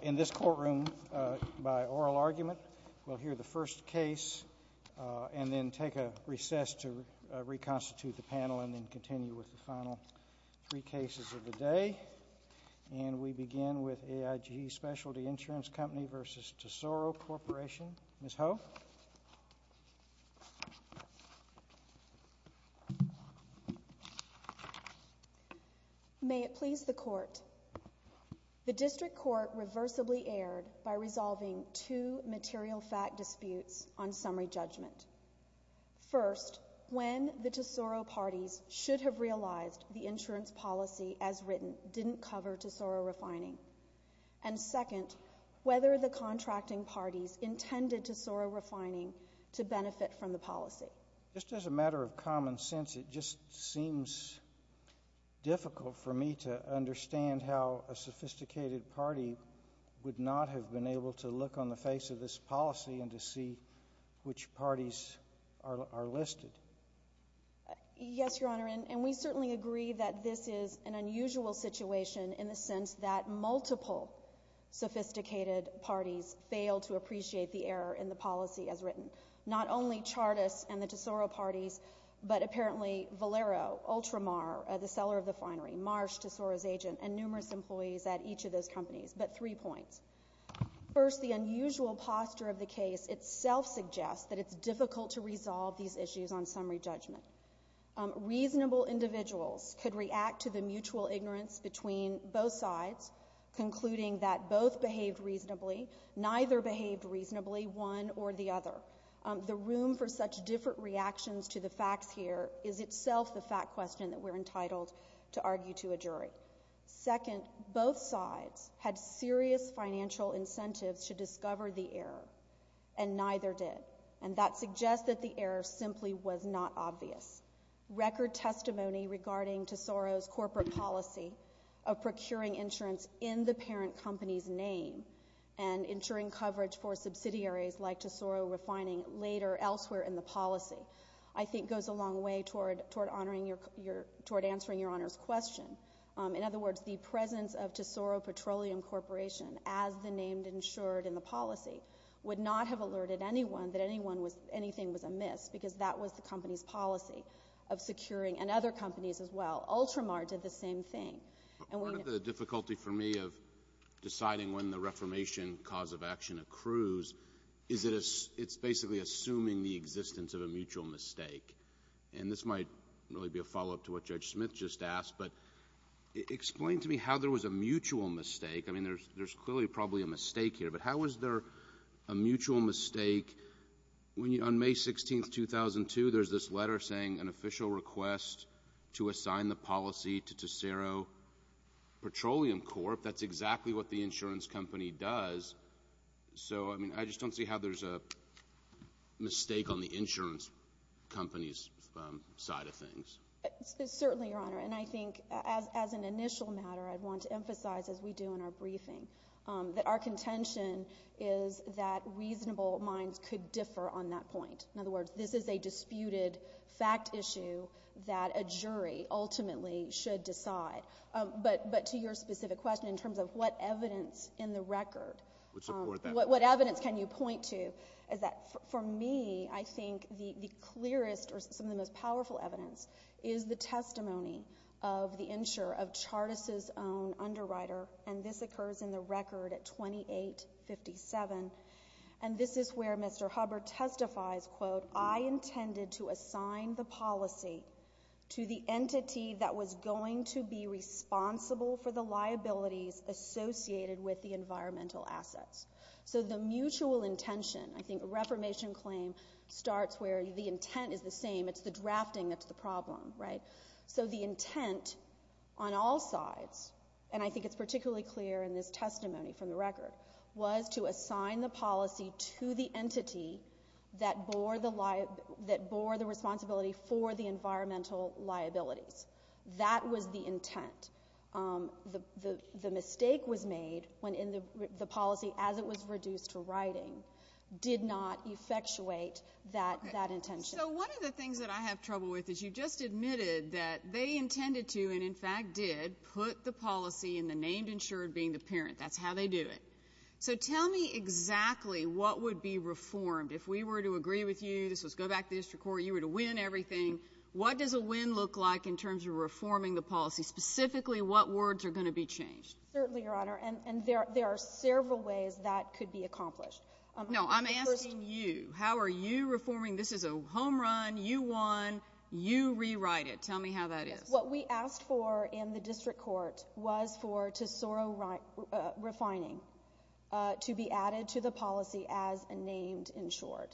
In this courtroom, by oral argument, we'll hear the first case and then take a recess to reconstitute the panel and then continue with the final three cases of the day. And we begin with AIG Specialty Insurance Company v. Tesoro Corporation. Ms. Ho. May it please the Court. The District Court reversibly erred by resolving two material fact disputes on summary judgment. First, when the Tesoro parties should have realized the insurance policy as written didn't cover Tesoro refining. And second, whether the contracting parties intended Tesoro refining to benefit from the policy. Just as a matter of common sense, it just seems difficult for me to understand how a sophisticated party would not have been able to look on the face of this policy and to see which parties are listed. Yes, Your Honor, and we certainly agree that this is an unusual situation in the sense that multiple sophisticated parties failed to appreciate the error in the policy as written. Not only Chartas and the Tesoro parties, but apparently Valero, Ultramar, the seller of the finery, Marsh, Tesoro's agent, and numerous employees at each of those companies. But three points. First, the unusual posture of the case itself suggests that it's difficult to resolve these issues on summary judgment. Reasonable individuals could react to the mutual ignorance between both sides, concluding that both behaved reasonably, neither behaved reasonably, one or the other. The room for such different reactions to the facts here is itself the fact question that we're entitled to argue to a jury. Second, both sides had serious financial incentives to discover the error, and neither did. And that suggests that the error simply was not obvious. Record testimony regarding Tesoro's corporate policy of procuring insurance in the parent company's name and insuring coverage for subsidiaries like Tesoro Refining later elsewhere in the policy, I think goes a long way toward answering Your Honor's question. In other words, the presence of Tesoro Petroleum Corporation as the name insured in the policy would not have alerted anyone that anything was amiss, because that was the company's policy of securing, and other companies as well. Ultramar did the same thing. One of the difficulties for me of deciding when the reformation cause of action accrues is that it's basically assuming the existence of a mutual mistake. And this might really be a follow-up to what Judge Smith just asked, but explain to me how there was a mutual mistake. I mean, there's clearly probably a mistake here, but how was there a mutual mistake when on May 16th, 2002, there's this letter saying an official request to assign the policy to Tesoro Petroleum Corp. That's exactly what the insurance company does. So I mean, I just don't see how there's a mistake on the insurance company's side of things. Certainly, Your Honor. And I think as an initial matter, I'd want to emphasize, as we do in our briefing, that our contention is that reasonable minds could differ on that point. In other words, this is a disputed fact issue that a jury ultimately should decide. But to your specific question in terms of what evidence in the record, what evidence can you point to is that, for me, I think the clearest or some of the most powerful evidence is the testimony of the insurer of Chartis's own underwriter, and this occurs in the record at 2857. And this is where Mr. Hubbard testifies, quote, I intended to assign the policy to the entity that was going to be responsible for the liabilities associated with the environmental assets. So the mutual intention, I think a reformation claim starts where the intent is the same. It's the drafting that's the problem, right? So the intent on all sides, and I think it's particularly clear in this testimony from the record, was to assign the policy to the entity that bore the responsibility for the environmental liabilities. That was the intent. The mistake was made when the policy, as it was reduced to writing, did not effectuate that intention. So one of the things that I have trouble with is you just admitted that they intended to and, in fact, did put the policy in the named insured being the parent. That's how they do it. So tell me exactly what would be reformed if we were to agree with you, this was go back to the district court, you were to win everything. What does a win look like in terms of reforming the policy, specifically what words are going to be changed? Certainly, Your Honor, and there are several ways that could be accomplished. No, I'm asking you. How are you reforming? This is a home run. You won. You rewrite it. Tell me how that is. What we asked for in the district court was for Tesoro Refining to be added to the policy as a named insured.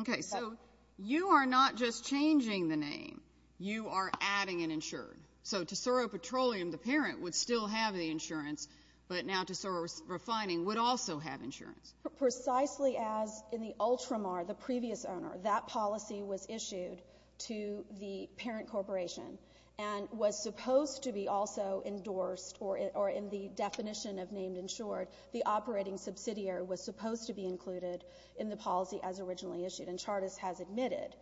Okay, so you are not just changing the name. You are adding an insured. So Tesoro Petroleum, the parent, would still have the insurance, but now Tesoro Refining would also have insurance. Precisely as in the Ultramar, the previous owner, that policy was issued to the parent corporation and was supposed to be also endorsed, or in the definition of named insured, the operating subsidiary was supposed to be included in the policy as originally issued, and Chartist has admitted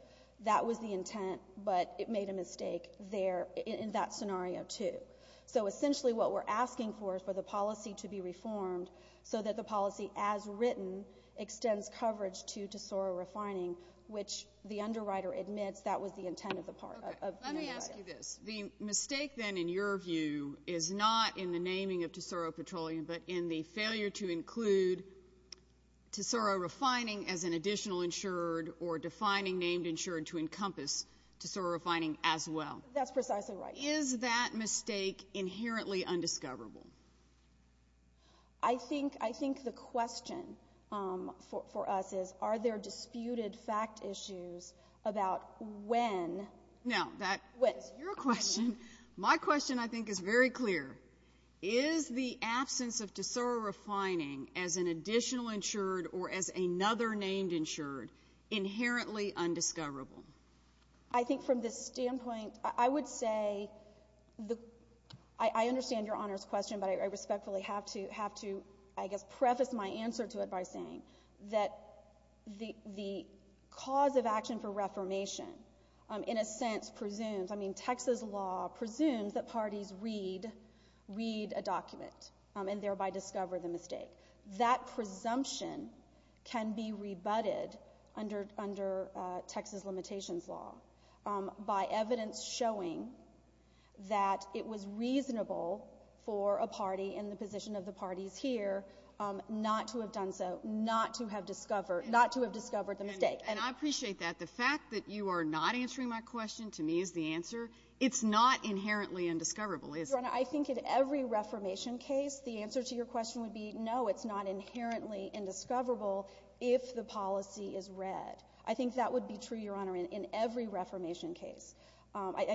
that was the intent, but it made a mistake there in that scenario too. So essentially what we're asking for is for the policy to be reformed so that the policy as written extends coverage to Tesoro Refining, which the underwriter admits that was the intent of the underwriter. Okay. Let me ask you this. The mistake then in your view is not in the naming of Tesoro Petroleum, but in the failure to include Tesoro Refining as an additional insured or defining named insured to encompass Tesoro Refining as well. That's precisely right. Is that mistake inherently undiscoverable? I think the question for us is, are there disputed fact issues about when? Now, that's your question. My question I think is very clear. Is the absence of Tesoro Refining as an additional insured or as another named insured inherently undiscoverable? I think from this standpoint, I would say, I understand Your Honor's question, but I respectfully have to, I guess, preface my answer to it by saying that the cause of action for reformation in a sense presumes, I mean, Texas law presumes that parties read a document and thereby discover the mistake. That presumption can be rebutted under Texas limitations law by evidence showing that it was reasonable for a party in the position of the parties here not to have done so, not to have discovered, not to have discovered the mistake. And I appreciate that. The fact that you are not answering my question to me is the answer. It's not inherently undiscoverable, is it? Your Honor, I think in every reformation case, the answer to your question would be, no, it's not inherently indiscoverable if the policy is read. I think that would be true, Your Honor, in every reformation case.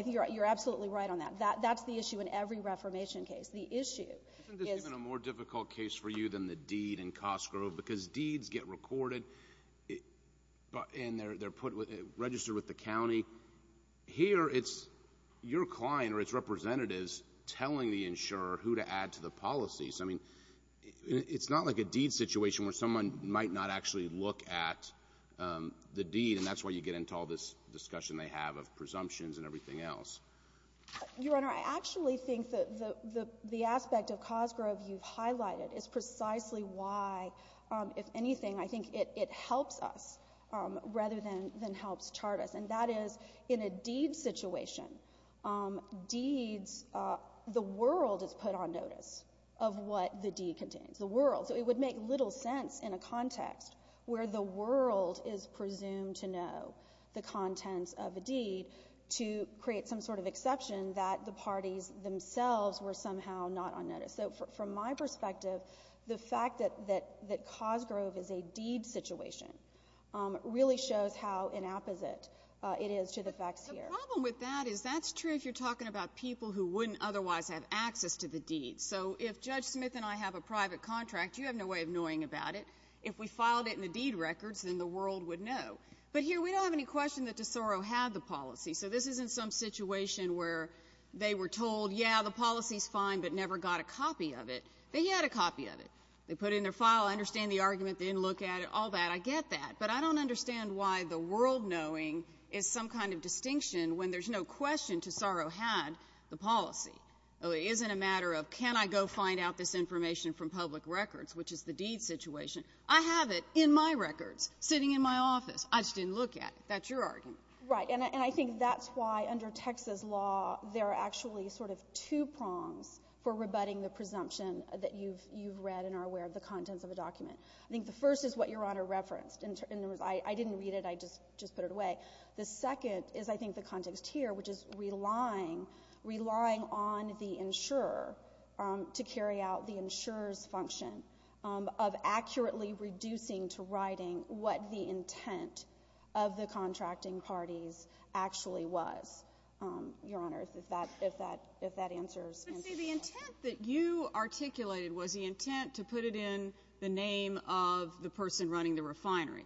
You're absolutely right on that. That's the issue in every reformation case. The issue is— Isn't this even a more difficult case for you than the deed in Cosgrove? Because deeds get recorded and they're put, registered with the county. Here, it's your client or its representatives telling the insurer who to add to the policies. I mean, it's not like a deed situation where someone might not actually look at the deed, and that's why you get into all this discussion they have of presumptions and everything else. Your Honor, I actually think that the aspect of Cosgrove you've highlighted is precisely why, if anything, I think it helps us rather than helps chart us. And that is, in a deed situation, deeds—the world is put on notice of what the deed contains, the world. So it would make little sense in a context where the world is presumed to know the contents of a deed to create some sort of exception that the parties themselves were somehow not on notice. So from my perspective, the fact that Cosgrove is a deed situation really shows how inapposite it is to the facts here. But the problem with that is that's true if you're talking about people who wouldn't otherwise have access to the deed. So if Judge Smith and I have a private contract, you have no way of knowing about it. If we filed it in the deed records, then the world would know. But here, we don't have any question that DeSoro had the policy. So this isn't some situation where they were told, yeah, the policy's fine, but never got a copy of it. They had a copy of it. They put it in their file, understand the argument, didn't look at it, all that. I get that. But I don't understand why the world knowing is some kind of distinction when there's no question DeSoro had the policy. It isn't a matter of can I go find out this information from public records, which is the deed situation. I have it in my records, sitting in my office. I just didn't look at it. That's your argument. Right. And I think that's why under Texas law, there are actually sort of two prongs for rebutting the presumption that you've read and are aware of the contents of a document. I think the first is what Your Honor referenced. I didn't read it. I just put it away. The second is, I think, the context here, which is relying on the insurer to carry out the insurer's function of accurately reducing to writing what the intent of the contracting parties actually was. Your Honor, if that answers your question. But see, the intent that you articulated was the intent to put it in the name of the person running the refinery.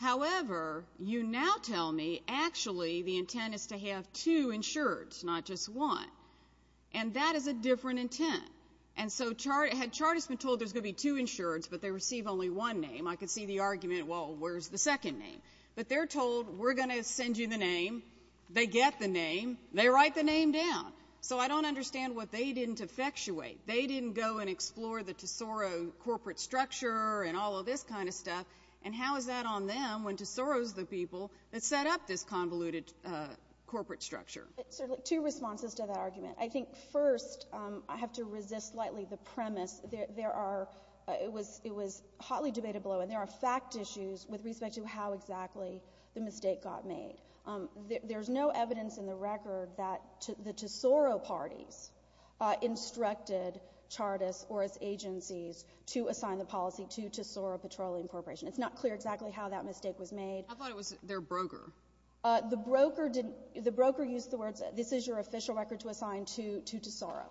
However, you now tell me actually the intent is to have two insureds, not just one. And that is a different intent. And so had Chartist been told there's going to be two insureds, but they receive only one name, I could see the argument, well, where's the second name? But they're told, we're going to send you the name. They get the name. They write the name down. So I don't understand what they didn't effectuate. They didn't go and explore the Tesoro corporate structure and all of this kind of stuff. And how is that on them when Tesoro is the people that set up this convoluted corporate structure? Two responses to that argument. I think, first, I have to resist lightly the premise. It was hotly debated below. And there are fact issues with respect to how exactly the mistake got made. There's no evidence in the record that the Tesoro parties instructed Chartist or its agencies to assign the policy to Tesoro Petroleum Corporation. It's not clear exactly how that mistake was made. I thought it was their broker. The broker used the words, this is your official record to assign to Tesoro.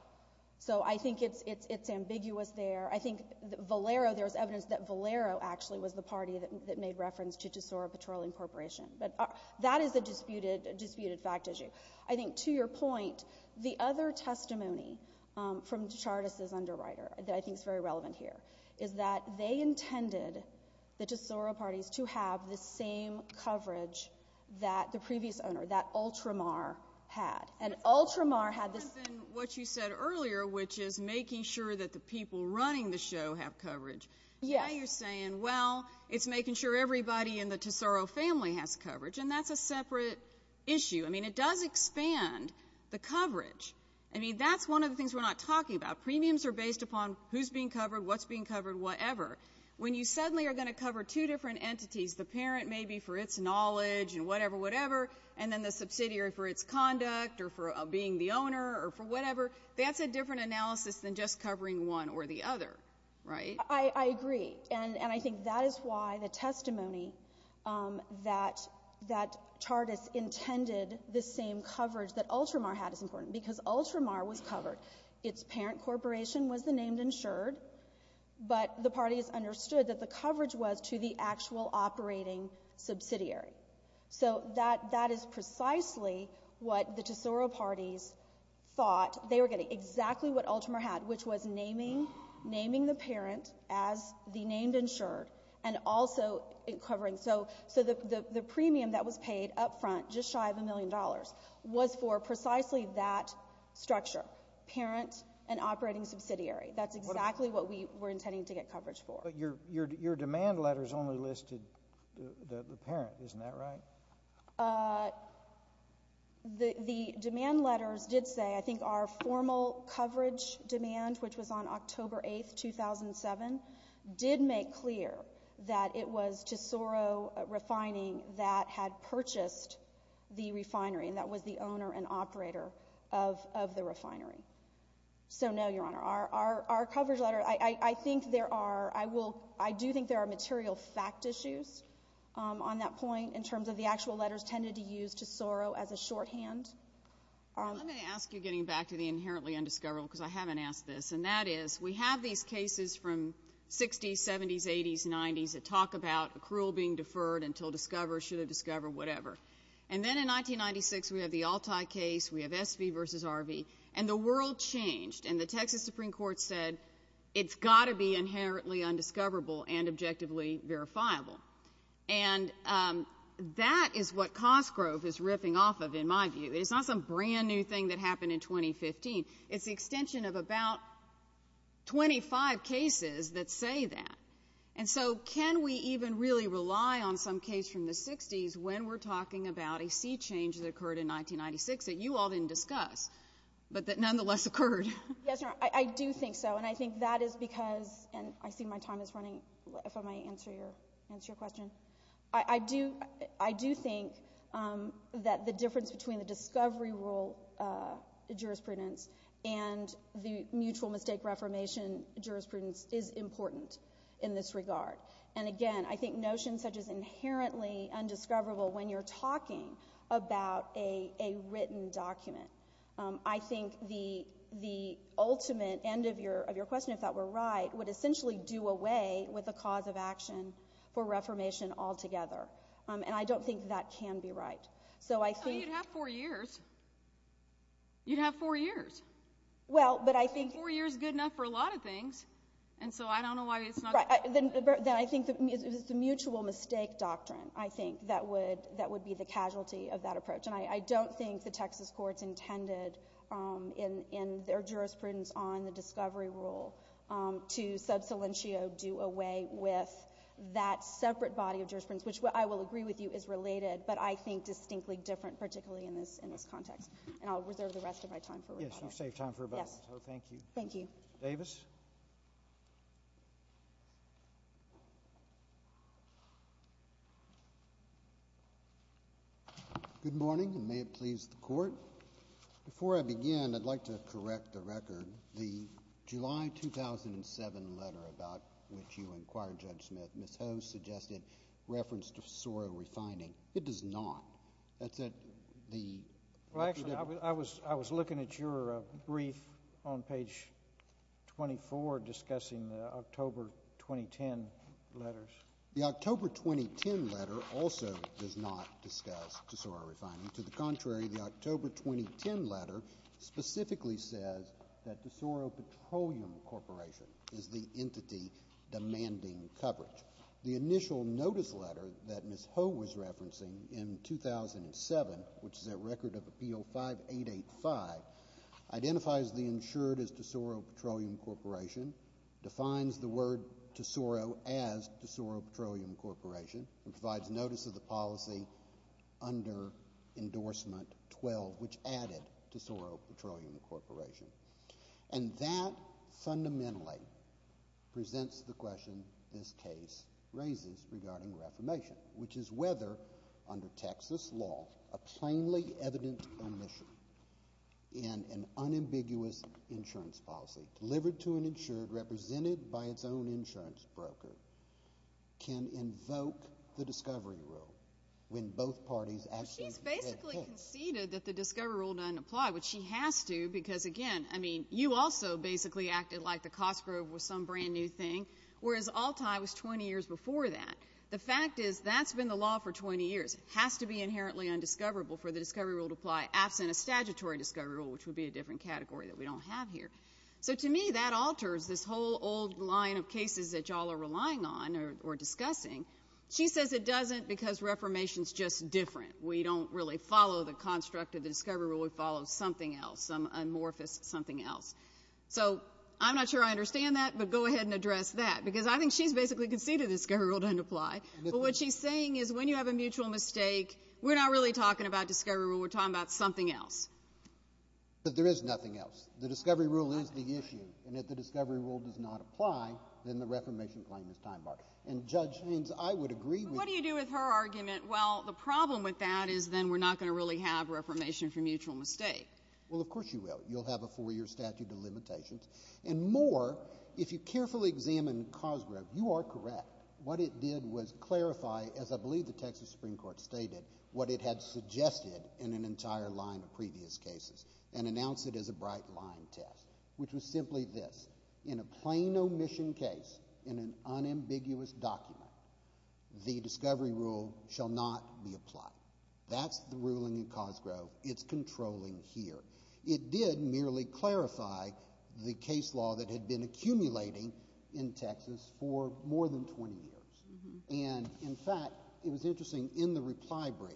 So I think it's ambiguous there. I think Valero, there's evidence that Valero actually was the party that made reference to Tesoro Petroleum Corporation. But that is a disputed fact issue. I think, to your point, the other testimony from Chartist's underwriter that I think is very relevant here is that they intended the Tesoro parties to have the same coverage that the previous owner, that Ultramar, had. It's different than what you said earlier, which is making sure that the people running the show have coverage. Now you're saying, well, it's making sure everybody in the Tesoro family has coverage, and that's a separate issue. I mean, it does expand the coverage. I mean, that's one of the things we're not talking about. Premiums are based upon who's being covered, what's being covered, whatever. When you suddenly are going to cover two different entities, the parent maybe for its knowledge and whatever, whatever, and then the subsidiary for its conduct or for being the owner or for whatever, that's a different analysis than just covering one or the other, right? I agree. And I think that is why the testimony that Chartist intended the same coverage that Ultramar had is important, because Ultramar was covered. Its parent corporation was the named insured, but the parties understood that the coverage was to the actual operating subsidiary. So that is precisely what the Tesoro parties thought they were getting, exactly what Ultramar had, which was naming the parent as the named insured and also covering. So the premium that was paid up front, just shy of a million dollars, was for precisely that structure, parent and operating subsidiary. That's exactly what we were intending to get coverage for. But your demand letters only listed the parent. Isn't that right? The demand letters did say, I think our formal coverage demand, which was on October 8, 2007, did make clear that it was Tesoro Refining that had purchased the refinery and that was the owner and operator of the refinery. So no, Your Honor. Our coverage letter, I think there are, I do think there are material fact issues on that point in terms of the actual letters tended to use Tesoro as a shorthand. Let me ask you, getting back to the inherently undiscoverable, because I haven't asked this, and that is we have these cases from 60s, 70s, 80s, 90s that talk about accrual being deferred until discovered, should have discovered, whatever. And then in 1996, we have the Altai case, we have SV versus RV, and the world changed and the Texas Supreme Court said it's got to be inherently undiscoverable and objectively verifiable. And that is what Cosgrove is riffing off of, in my view. It's not some brand new thing that happened in 2015. It's the extension of about 25 cases that say that. And so can we even really rely on some case from the 60s when we're talking about a sea change that occurred in 1996 that you all didn't discuss, but that nonetheless occurred? Yes, Your Honor, I do think so, and I think that is because, and I see my time is running, if I may answer your question. I do think that the difference between the discovery rule jurisprudence and the mutual mistake reformation jurisprudence is important in this regard. And again, I think notions such as inherently undiscoverable when you're talking about a written document, I think the ultimate end of your question, if that were right, would essentially do away with the cause of action for reformation altogether. And I don't think that can be right. So you'd have four years. You'd have four years. Four years is good enough for a lot of things. And so I don't know why it's not... Then I think it's the mutual mistake doctrine, I think, that would be the casualty of that approach. And I don't think the Texas courts intended in their jurisprudence on the discovery rule to sub salientio do away with that separate body of jurisprudence, which I will agree with you is related, but I think distinctly different, particularly in this context. And I'll reserve the rest of my time for rebuttal. Yes, you've saved time for rebuttal, so thank you. Thank you. Mr. Davis. Good morning, and may it please the Court. Before I begin, I'd like to correct the record. The July 2007 letter about which you inquired Judge Smith, Ms. Ho suggested reference to Soro refining. It does not. That's at the... Well, actually, I was looking at your brief on page 24 discussing the October 2010 letters. The October 2010 letter also does not discuss Soro refining. To the contrary, the October 2010 letter specifically says that the Soro Petroleum Corporation is the entity demanding coverage. The initial notice letter that Ms. Ho was referencing in 2007, which is a record of Appeal 5885, identifies the insured as Soro Petroleum Corporation, defines the word Soro as Soro Petroleum Corporation, and provides notice of the policy under Endorsement 12, which added to Soro Petroleum Corporation. And that fundamentally presents the question this case raises regarding reformation, which is whether, under Texas law, a plainly evident omission in an unambiguous insurance policy delivered to an insured represented by its own insurance broker can invoke the discovery rule when both parties actually... Well, she's basically conceded that the discovery rule doesn't apply, which she has to, because, again, I mean, you also basically acted like the Cosgrove was some brand-new thing, whereas Altai was 20 years before that. The fact is that's been the law for 20 years. It has to be inherently undiscoverable for the discovery rule to apply, absent a statutory discovery rule, which would be a different category that we don't have here. So, to me, that alters this whole old line of cases that you all are relying on or discussing. She says it doesn't because reformation is just different. We don't really follow the construct of the discovery rule. We follow something else, some amorphous something else. So I'm not sure I understand that, but go ahead and address that, because I think she's basically conceded the discovery rule doesn't apply. But what she's saying is when you have a mutual mistake, we're not really talking about discovery rule. We're talking about something else. But there is nothing else. The discovery rule is the issue. And if the discovery rule does not apply, then the reformation claim is time-barred. And, Judge Haynes, I would agree with you. But what do you do with her argument? Well, the problem with that is then we're not going to really have reformation for mutual mistake. Well, of course you will. You'll have a four-year statute of limitations. And more, if you carefully examine Cosgrove, you are correct. What it did was clarify, as I believe the Texas Supreme Court stated, what it had suggested in an entire line of previous cases and announced it as a bright-line test, which was simply this. In a plain omission case, in an unambiguous document, the discovery rule shall not be applied. That's the ruling in Cosgrove. It's controlling here. It did merely clarify the case law that had been accumulating in Texas for more than 20 years. And, in fact, it was interesting. In the reply brief,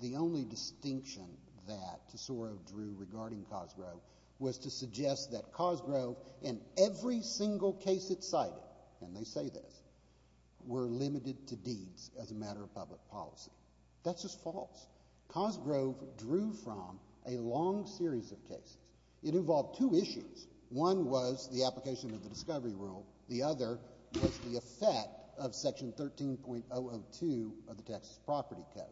the only distinction that Tesoro drew regarding Cosgrove was to suggest that Cosgrove, in every single case it cited, and they say this, were limited to deeds as a matter of public policy. That's just false. Cosgrove drew from a long series of cases. It involved two issues. One was the application of the discovery rule. The other was the effect of Section 13.002 of the Texas Property Code.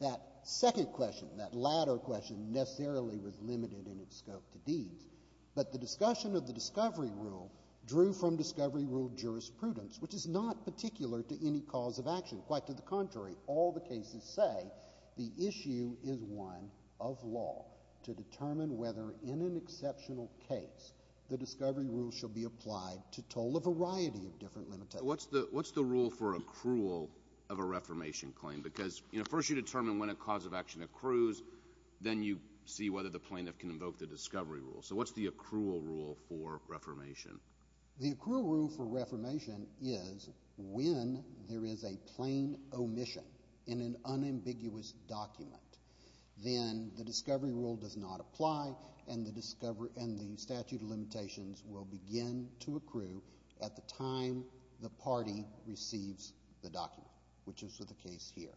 That second question, that latter question, necessarily was limited in its scope to deeds. But the discussion of the discovery rule drew from discovery rule jurisprudence, which is not particular to any cause of action. Quite to the contrary, all the cases say the issue is one of law to determine whether in an exceptional case the discovery rule shall be applied to toll a variety of different limitations. What's the rule for accrual of a reformation claim? Because first you determine when a cause of action accrues. Then you see whether the plaintiff can invoke the discovery rule. So what's the accrual rule for reformation? The accrual rule for reformation is when there is a plain omission in an unambiguous document, then the discovery rule does not apply and the statute of limitations will begin to accrue at the time the party receives the document, which is with the case here.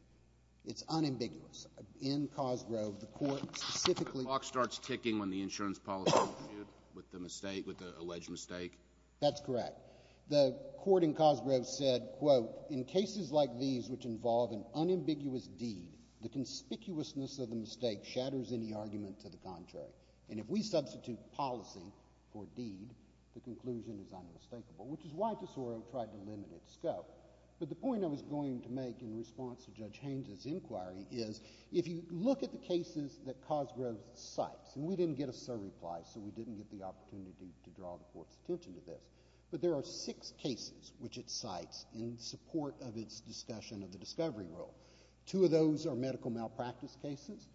It's unambiguous. In Cosgrove, the court specifically— The clock starts ticking when the insurance policy is reviewed with the alleged mistake? That's correct. The court in Cosgrove said, quote, in cases like these which involve an unambiguous deed, the conspicuousness of the mistake shatters any argument to the contrary. And if we substitute policy for deed, the conclusion is unmistakable, which is why Tesoro tried to limit its scope. But the point I was going to make in response to Judge Haynes's inquiry is if you look at the cases that Cosgrove cites— and we didn't get a survey reply, so we didn't get the opportunity to draw the court's attention to this— but there are six cases which it cites in support of its discussion of the discovery rule. Two of those are medical malpractice cases.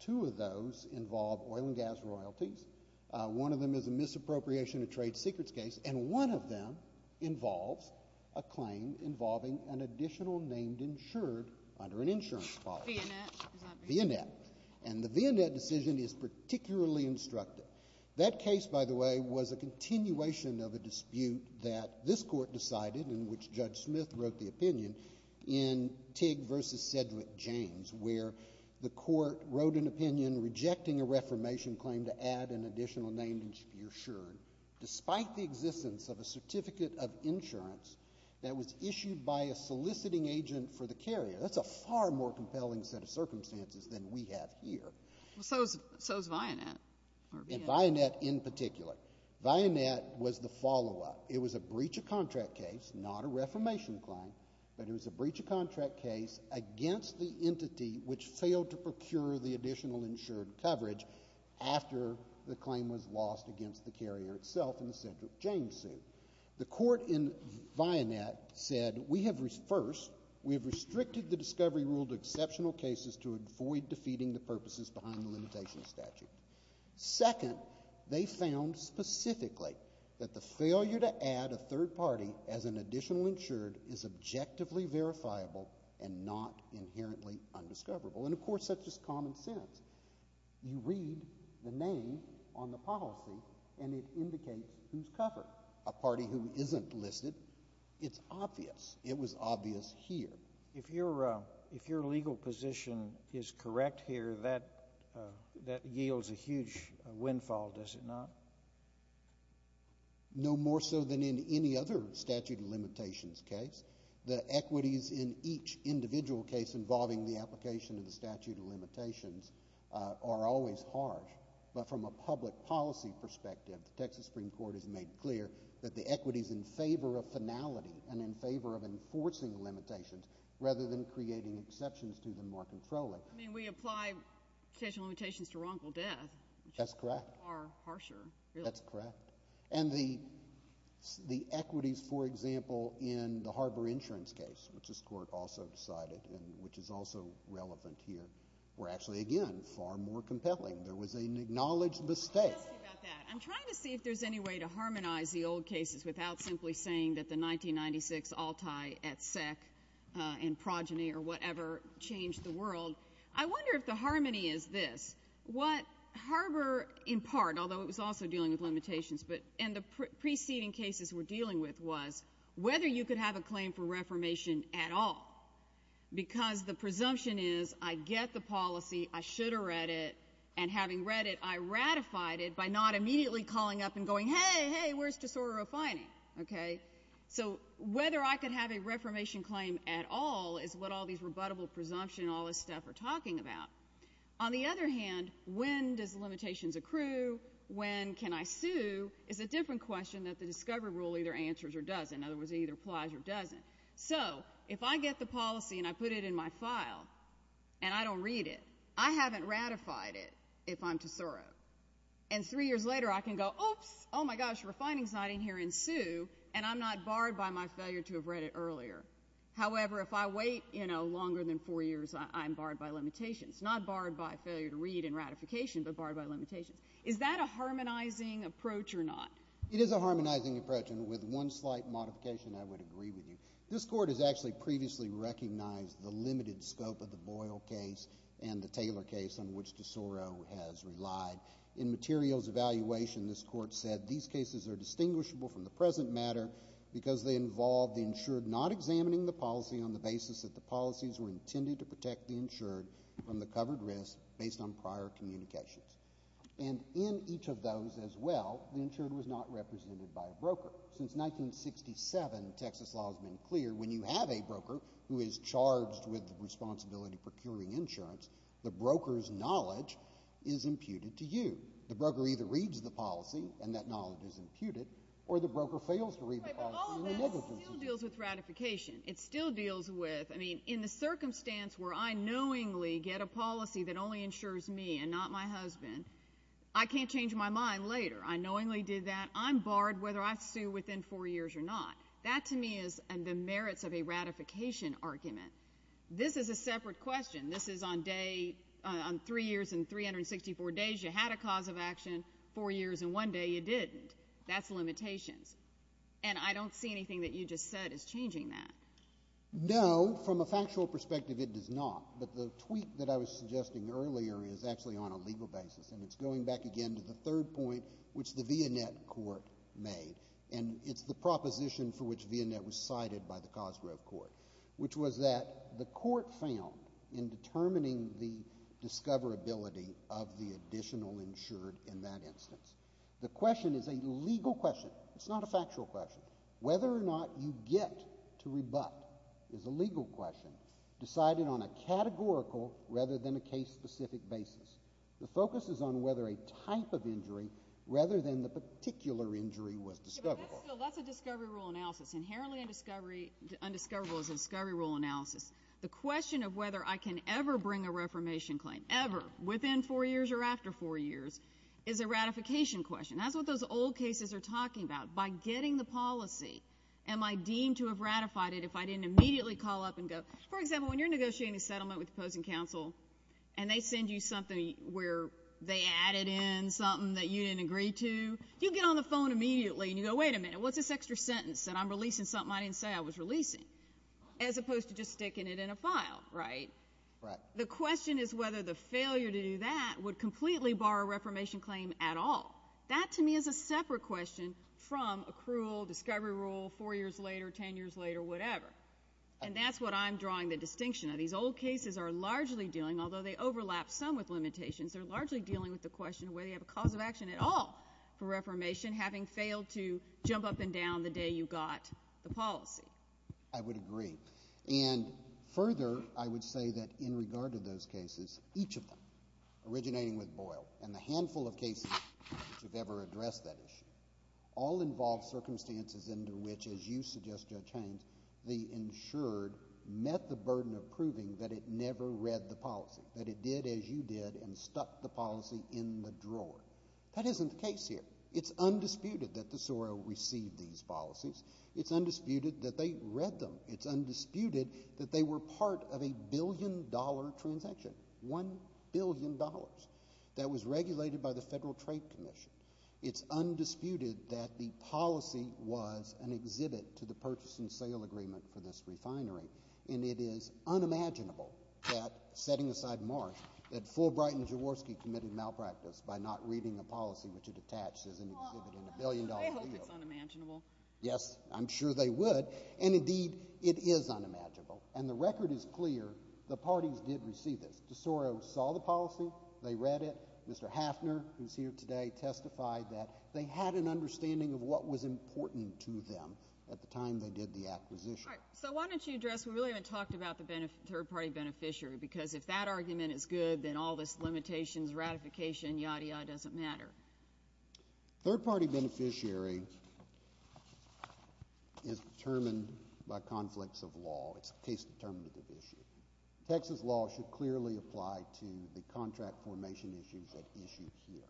Two of those involve oil and gas royalties. One of them is a misappropriation of trade secrets case. And one of them involves a claim involving an additional named insured under an insurance policy. Vionette. Vionette. And the Vionette decision is particularly instructive. That case, by the way, was a continuation of a dispute that this court decided in which Judge Smith wrote the opinion in Tigg v. Sedgwick James where the court wrote an opinion rejecting a reformation claim to add an additional named insured despite the existence of a certificate of insurance that was issued by a soliciting agent for the carrier. That's a far more compelling set of circumstances than we have here. So is Vionette. And Vionette in particular. Vionette was the follow-up. It was a breach of contract case, not a reformation claim, but it was a breach of contract case against the entity which failed to procure the additional insured coverage after the claim was lost against the carrier itself in the Sedgwick James suit. The court in Vionette said, First, we have restricted the discovery rule to exceptional cases to avoid defeating the purposes behind the limitation statute. Second, they found specifically that the failure to add a third party as an additional insured is objectively verifiable and not inherently undiscoverable. And, of course, that's just common sense. You read the name on the policy, and it indicates who's covered. A party who isn't listed, it's obvious. It was obvious here. If your legal position is correct here, that yields a huge windfall, does it not? No more so than in any other statute of limitations case. The equities in each individual case involving the application of the statute of limitations are always harsh. But from a public policy perspective, the Texas Supreme Court has made clear that the equities in favor of finality and in favor of enforcing limitations rather than creating exceptions to them are controlling. I mean, we apply limitations to wrongful death. That's correct. Which is far harsher. That's correct. And the equities, for example, in the Harbor Insurance case, which this court also decided and which is also relevant here, were actually, again, far more compelling. There was an acknowledged mistake. Let me ask you about that. I'm trying to see if there's any way to harmonize the old cases without simply saying that the 1996 Altai et sec and progeny or whatever changed the world. I wonder if the harmony is this. What Harbor, in part, although it was also dealing with limitations, and the preceding cases we're dealing with, was whether you could have a claim for reformation at all. Because the presumption is I get the policy, I should have read it, and having read it, I ratified it by not immediately calling up and going, hey, hey, where's disorder refining? So whether I could have a reformation claim at all is what all these rebuttable presumptions and all this stuff are talking about. On the other hand, when does limitations accrue? When can I sue? When can I sue is a different question that the discovery rule either answers or doesn't. In other words, it either applies or doesn't. So if I get the policy and I put it in my file and I don't read it, I haven't ratified it if I'm tosoro. And three years later I can go, oops, oh, my gosh, refining's not in here and sue, and I'm not barred by my failure to have read it earlier. However, if I wait longer than four years, I'm barred by limitations. Not barred by failure to read and ratification, but barred by limitations. Is that a harmonizing approach or not? It is a harmonizing approach, and with one slight modification I would agree with you. This court has actually previously recognized the limited scope of the Boyle case and the Taylor case on which tosoro has relied. In materials evaluation this court said these cases are distinguishable from the present matter because they involve the insured not examining the policy on the basis that the policies were intended to protect the insured from the covered risk based on prior communications. And in each of those as well, the insured was not represented by a broker. Since 1967, Texas law has been clear, when you have a broker who is charged with the responsibility of procuring insurance, the broker's knowledge is imputed to you. The broker either reads the policy and that knowledge is imputed or the broker fails to read the policy and the negligence is made. But all of that still deals with ratification. It still deals with, I mean, in the circumstance where I knowingly get a policy that only insures me and not my husband, I can't change my mind later. I knowingly did that. I'm barred whether I sue within four years or not. That to me is the merits of a ratification argument. This is a separate question. This is on three years and 364 days you had a cause of action, four years and one day you didn't. That's limitations. And I don't see anything that you just said as changing that. No, from a factual perspective, it does not. But the tweak that I was suggesting earlier is actually on a legal basis, and it's going back again to the third point which the Vionette Court made, and it's the proposition for which Vionette was cited by the Cosgrove Court, which was that the court found in determining the discoverability of the additional insured in that instance, the question is a legal question. It's not a factual question. Whether or not you get to rebut is a legal question decided on a categorical rather than a case-specific basis. The focus is on whether a type of injury rather than the particular injury was discoverable. That's a discovery rule analysis. Inherently undiscoverable is a discovery rule analysis. The question of whether I can ever bring a reformation claim, ever, within four years or after four years, is a ratification question. That's what those old cases are talking about. By getting the policy, am I deemed to have ratified it if I didn't immediately call up and go... For example, when you're negotiating a settlement with the opposing counsel and they send you something where they added in something that you didn't agree to, you get on the phone immediately and you go, wait a minute, what's this extra sentence that I'm releasing something I didn't say I was releasing? As opposed to just sticking it in a file, right? The question is whether the failure to do that would completely bar a reformation claim at all. That, to me, is a separate question from accrual, discovery rule, four years later, ten years later, whatever. And that's what I'm drawing the distinction of. These old cases are largely dealing, although they overlap some with limitations, they're largely dealing with the question of whether you have a cause of action at all for reformation, having failed to jump up and down the day you got the policy. I would agree. And further, I would say that in regard to those cases, each of them originating with Boyle and the handful of cases which have ever addressed that issue, all involve circumstances into which, as you suggest, Judge Haines, the insured met the burden of proving that it never read the policy, that it did as you did and stuck the policy in the drawer. That isn't the case here. It's undisputed that DeSoro received these policies. It's undisputed that they read them. It's undisputed that they were part of a billion-dollar transaction, $1 billion. That was regulated by the Federal Trade Commission. It's undisputed that the policy was an exhibit to the purchase and sale agreement for this refinery. And it is unimaginable that, setting aside Marsh, that Fulbright and Jaworski committed malpractice by not reading a policy which it attached as an exhibit in a billion-dollar deal. I hope it's unimaginable. Yes, I'm sure they would. And, indeed, it is unimaginable. And the record is clear, the parties did receive this. DeSoro saw the policy. They read it. Mr. Hafner, who's here today, testified that they had an understanding of what was important to them at the time they did the acquisition. All right, so why don't you address, we really haven't talked about the third-party beneficiary, because if that argument is good, then all this limitations, ratification, yadda yadda, doesn't matter. Third-party beneficiary is determined by conflicts of law. It's a case-determinative issue. Texas law should clearly apply to the contract formation issues at issue here.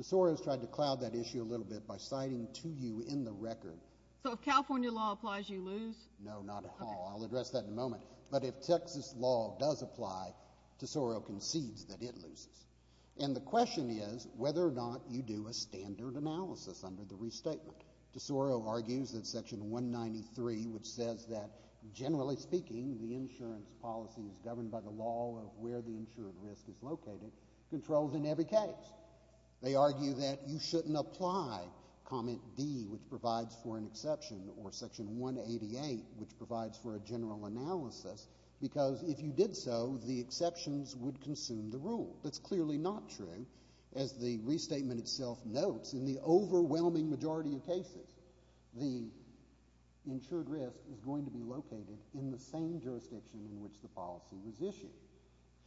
DeSoro's tried to cloud that issue a little bit by citing to you in the record... So if California law applies, you lose? No, not at all. I'll address that in a moment. But if Texas law does apply, DeSoro concedes that it loses. And the question is whether or not you do a standard analysis under the restatement. DeSoro argues that Section 193, which says that, generally speaking, the insurance policy is governed by the law of where the insured risk is located, controls in every case. They argue that you shouldn't apply Comment D, which provides for an exception, or Section 188, which provides for a general analysis, because if you did so, the exceptions would consume the rule. That's clearly not true. As the restatement itself notes, in the overwhelming majority of cases, the insured risk is going to be located in the same jurisdiction in which the policy was issued.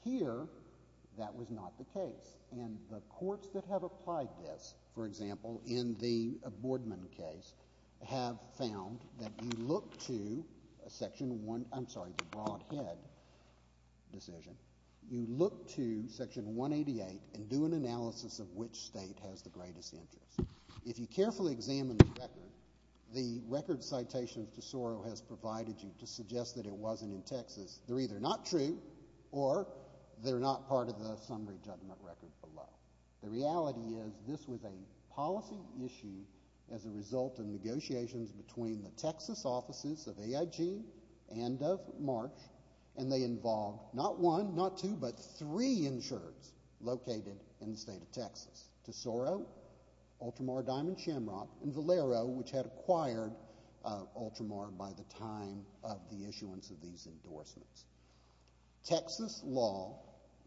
Here, that was not the case. And the courts that have applied this, for example, in the Boardman case, have found that you look to Section 1... I'm sorry, the Broadhead decision. You look to Section 188 and do an analysis of which state has the greatest interest. If you carefully examine the record, the record citations DeSoro has provided you to suggest that it wasn't in Texas, they're either not true or they're not part of the summary judgment record below. The reality is this was a policy issue as a result of negotiations between the Texas offices of AIG and of March, and they involved not one, not two, but three insureds located in the state of Texas. DeSoro, Ultramar Diamond Shamrock, and Valero, which had acquired Ultramar by the time of the issuance of these endorsements. Texas law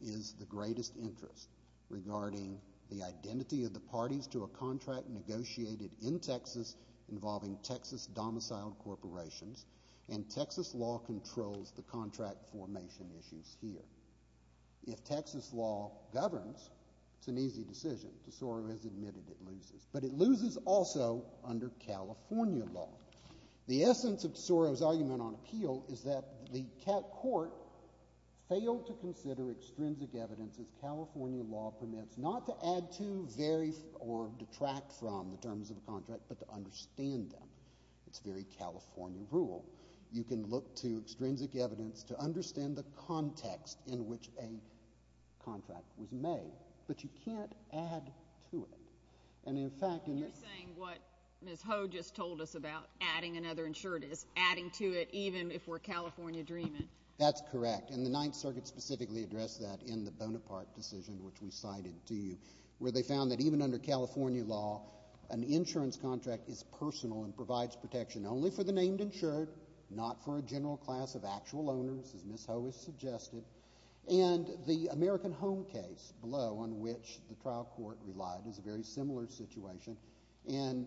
is the greatest interest regarding the identity of the parties to a contract negotiated in Texas involving Texas domiciled corporations, and Texas law controls the contract formation issues here. If Texas law governs, it's an easy decision. DeSoro has admitted it loses. But it loses also under California law. The essence of DeSoro's argument on appeal is that the court failed to consider extrinsic evidence as California law permits, not to add to, vary, or detract from the terms of a contract, but to understand them. It's very California rule. You can look to extrinsic evidence to understand the context in which a contract was made, but you can't add to it. And in fact... You're saying what Ms. Ho just told us about adding another insured is adding to it even if we're California dreaming. That's correct, and the Ninth Circuit specifically addressed that in the Bonaparte decision, which we cited to you, where they found that even under California law, an insurance contract is personal and provides protection only for the named insured, not for a general class of actual owners, as Ms. Ho has suggested. And the American Home case below, on which the trial court relied, is a very similar situation. And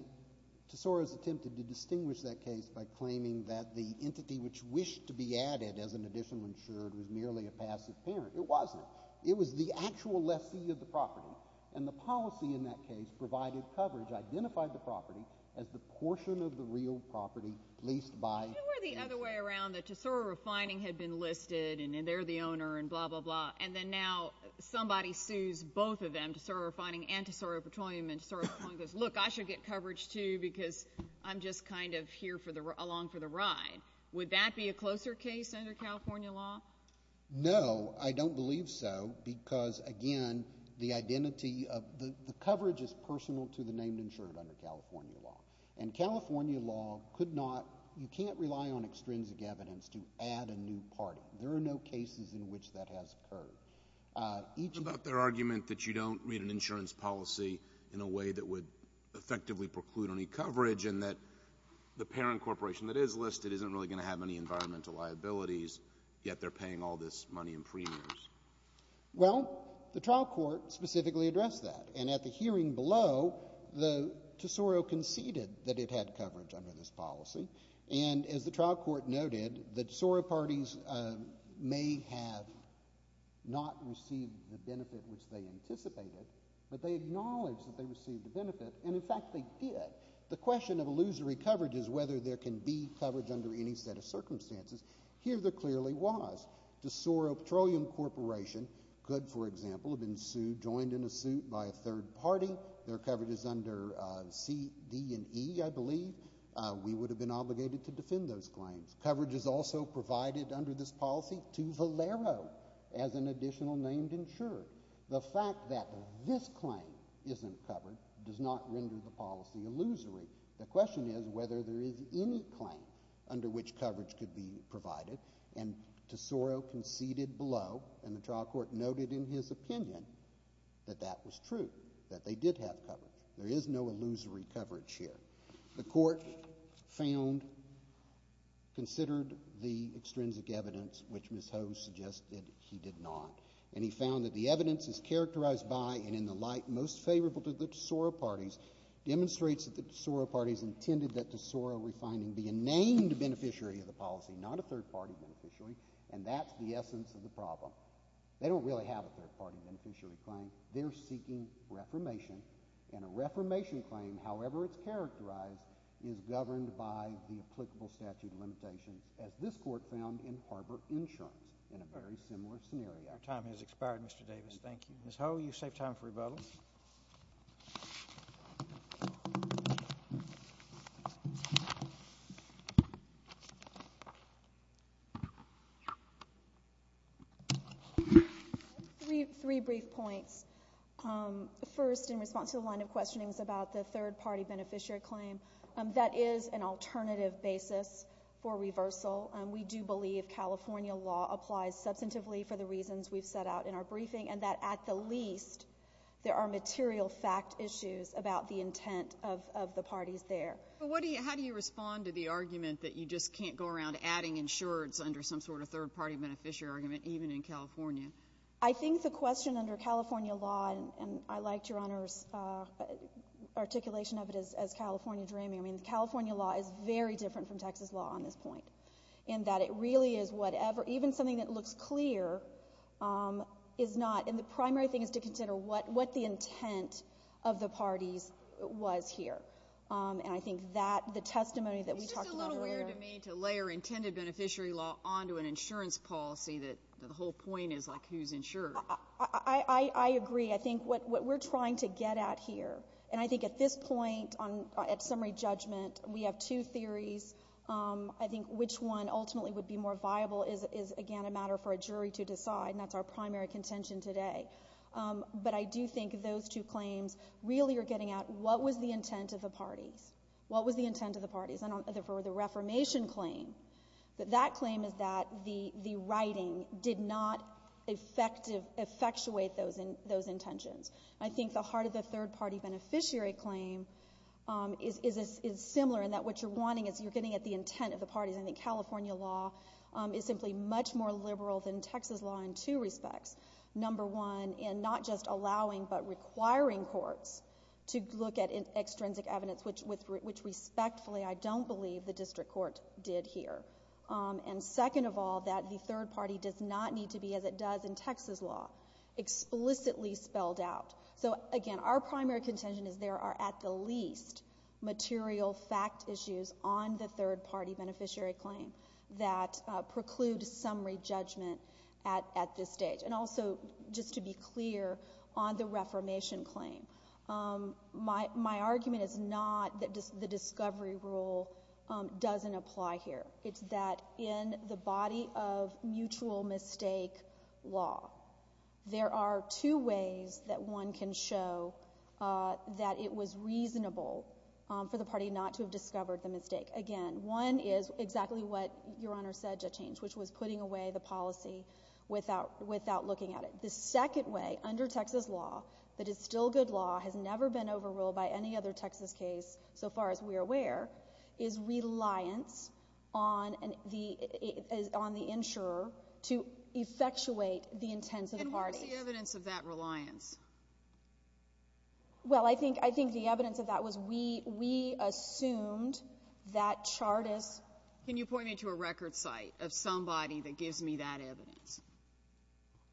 Tesoro's attempted to distinguish that case by claiming that the entity which wished to be added as an additional insured was merely a passive parent. It wasn't. It was the actual lessee of the property. And the policy in that case provided coverage, identified the property as the portion of the real property leased by... Isn't there the other way around, that Tesoro Refining had been listed, and they're the owner, and blah, blah, blah, and then now somebody sues both of them, Tesoro Refining and Tesoro Petroleum, and Tesoro Petroleum goes, Look, I should get coverage, too, because I'm just kind of here along for the ride. Would that be a closer case under California law? No, I don't believe so, because, again, the identity of... The coverage is personal to the named insured under California law. And California law could not... You can't rely on extrinsic evidence to add a new party. There are no cases in which that has occurred. What about their argument that you don't read an insurance policy in a way that would effectively preclude any coverage and that the parent corporation that is listed isn't really going to have any environmental liabilities, yet they're paying all this money in premiums? Well, the trial court specifically addressed that. And at the hearing below, Tesoro conceded that it had coverage under this policy. And as the trial court noted, the Tesoro parties may have not received the benefit which they anticipated, but they acknowledged that they received the benefit, and, in fact, they did. The question of illusory coverage is whether there can be coverage under any set of circumstances. Here there clearly was. The Tesoro Petroleum Corporation could, for example, have been sued, joined in a suit by a third party. Their coverage is under C, D, and E, I believe. We would have been obligated to defend those claims. Coverage is also provided under this policy to Valero as an additional named insurer. The fact that this claim isn't covered does not render the policy illusory. The question is whether there is any claim under which coverage could be provided. And Tesoro conceded below, and the trial court noted in his opinion that that was true, that they did have coverage. There is no illusory coverage here. The court found, considered the extrinsic evidence, which Ms. Ho suggested he did not, and he found that the evidence is characterized by and in the light most favorable to the Tesoro parties demonstrates that the Tesoro parties intended that Tesoro refining be a named beneficiary of the policy, not a third-party beneficiary, and that's the essence of the problem. They don't really have a third-party beneficiary claim. They're seeking reformation, and a reformation claim, however it's characterized, is governed by the applicable statute of limitations as this court found in Harbor Insurance in a very similar scenario. Our time has expired, Mr. Davis. Thank you. Ms. Ho, you've saved time for rebuttal. Three brief points. First, in response to the line of questionings about the third-party beneficiary claim, that is an alternative basis for reversal. We do believe California law applies substantively for the reasons we've set out in our briefing and that, at the least, there are material fact issues about the intent of the parties there. How do you respond to the argument that you just can't go around adding insureds under some sort of third-party beneficiary argument, even in California? I think the question under California law, and I liked Your Honor's articulation of it as California dreaming. I mean, California law is very different from Texas law on this point, in that it really is whatever, even something that looks clear, is not. And the primary thing is to consider what the intent of the parties was here. And I think that the testimony that we talked about earlier... It's just a little weird to me to layer intended beneficiary law onto an insurance policy that the whole point is, like, who's insured. I agree. I think what we're trying to get at here, and I think at this point, at summary judgment, we have two theories. I think which one ultimately would be more viable is, again, a matter for a jury to decide, and that's our primary contention today. But I do think those two claims really are getting at what was the intent of the parties? What was the intent of the parties? And for the Reformation claim, that claim is that the writing did not effectuate those intentions. I think the heart of the third-party beneficiary claim is similar in that what you're wanting is... You're getting at the intent of the parties. I think California law is simply much more liberal than Texas law in two respects. Number one, in not just allowing but requiring courts to look at extrinsic evidence, which, respectfully, I don't believe the district court did here. And second of all, that the third party does not need to be, as it does in Texas law, explicitly spelled out. So, again, our primary contention is there are at the least material fact issues on the third-party beneficiary claim that preclude summary judgment at this stage. And also, just to be clear, on the Reformation claim, my argument is not that the discovery rule doesn't apply here. It's that in the body of mutual mistake law, there are two ways that one can show that it was reasonable for the party not to have discovered the mistake. Again, one is exactly what Your Honor said, Judge Haines, which was putting away the policy without looking at it. The second way, under Texas law, that is still good law, has never been overruled by any other Texas case, so far as we're aware, is reliance on the insurer to effectuate the intents of the parties. And what was the evidence of that reliance? Well, I think the evidence of that was we assumed that Chartist... Can you point me to a record site of somebody that gives me that evidence?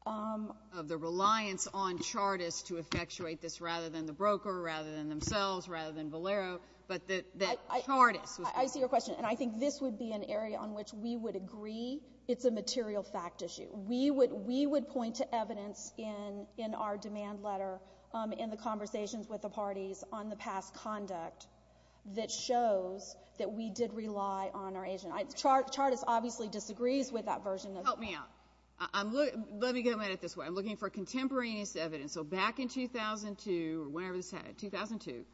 ...of the reliance on Chartist to effectuate this rather than the broker, rather than themselves, rather than Valero, but that Chartist... I see your question, and I think this would be an area on which we would agree it's a material fact issue. We would point to evidence in our demand letter in the conversations with the parties on the past conduct that shows that we did rely on our agent. Chartist obviously disagrees with that version of... Help me out. Let me get a minute this way. I'm looking for contemporaneous evidence. So back in 2002, or whenever this happened, 2002,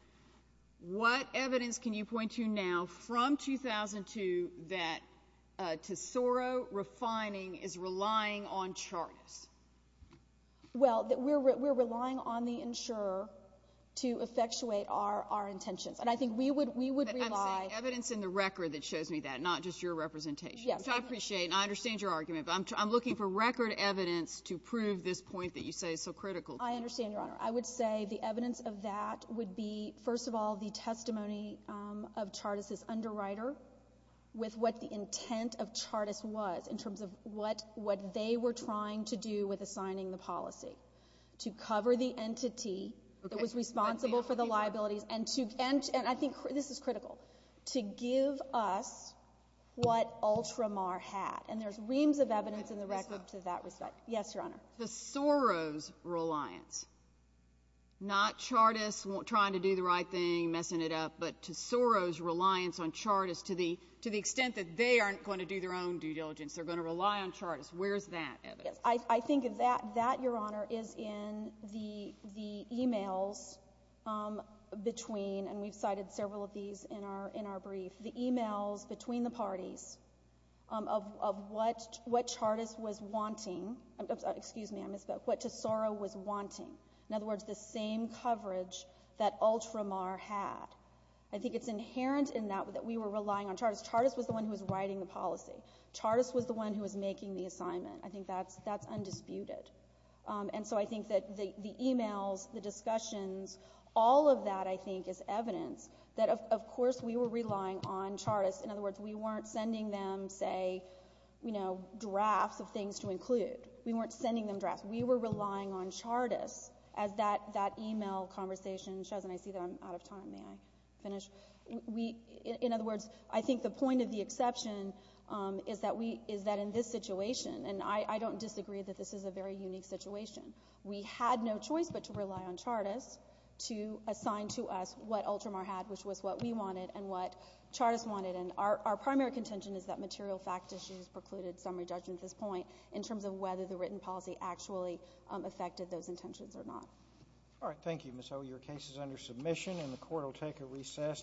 what evidence can you point to now from 2002 that Tesoro Refining is relying on Chartist? Well, we're relying on the insurer to effectuate our intentions, and I think we would rely... But I'm saying evidence in the record that shows me that, not just your representation, which I appreciate, and I understand your argument, but I'm looking for record evidence to prove this point that you say is so critical. I understand, Your Honor. I would say the evidence of that would be, first of all, the testimony of Chartist's underwriter with what the intent of Chartist was in terms of what they were trying to do with assigning the policy, to cover the entity that was responsible for the liabilities, and I think this is critical, to give us what Ultramar had. And there's reams of evidence in the record to that respect. Yes, Your Honor. Tesoro's reliance. Not Chartist trying to do the right thing, messing it up, but Tesoro's reliance on Chartist to the extent that they aren't going to do their own due diligence. They're going to rely on Chartist. Where's that evidence? I think that, Your Honor, is in the e-mails between, and we've cited several of these in our brief, the e-mails between the parties of what Chartist was wanting. Excuse me, I misspoke. What Tesoro was wanting. In other words, the same coverage that Ultramar had. I think it's inherent in that, that we were relying on Chartist. Chartist was the one who was writing the policy. Chartist was the one who was making the assignment. I think that's undisputed. And so I think that the e-mails, the discussions, all of that, I think, is evidence that, of course, we were relying on Chartist. In other words, we weren't sending them, say, drafts of things to include. We weren't sending them drafts. We were relying on Chartist as that e-mail conversation shows. And I see that I'm out of time. May I finish? In other words, I think the point of the exception is that in this situation, and I don't disagree that this is a very unique situation, we had no choice but to rely on Chartist to assign to us what Ultramar had, which was what we wanted and what Chartist wanted. And our primary contention is that material fact issues precluded summary judgment at this point in terms of whether the written policy actually affected those intentions or not. All right. Thank you, Ms. Owey. Your case is under submission, and the Court will take a recess.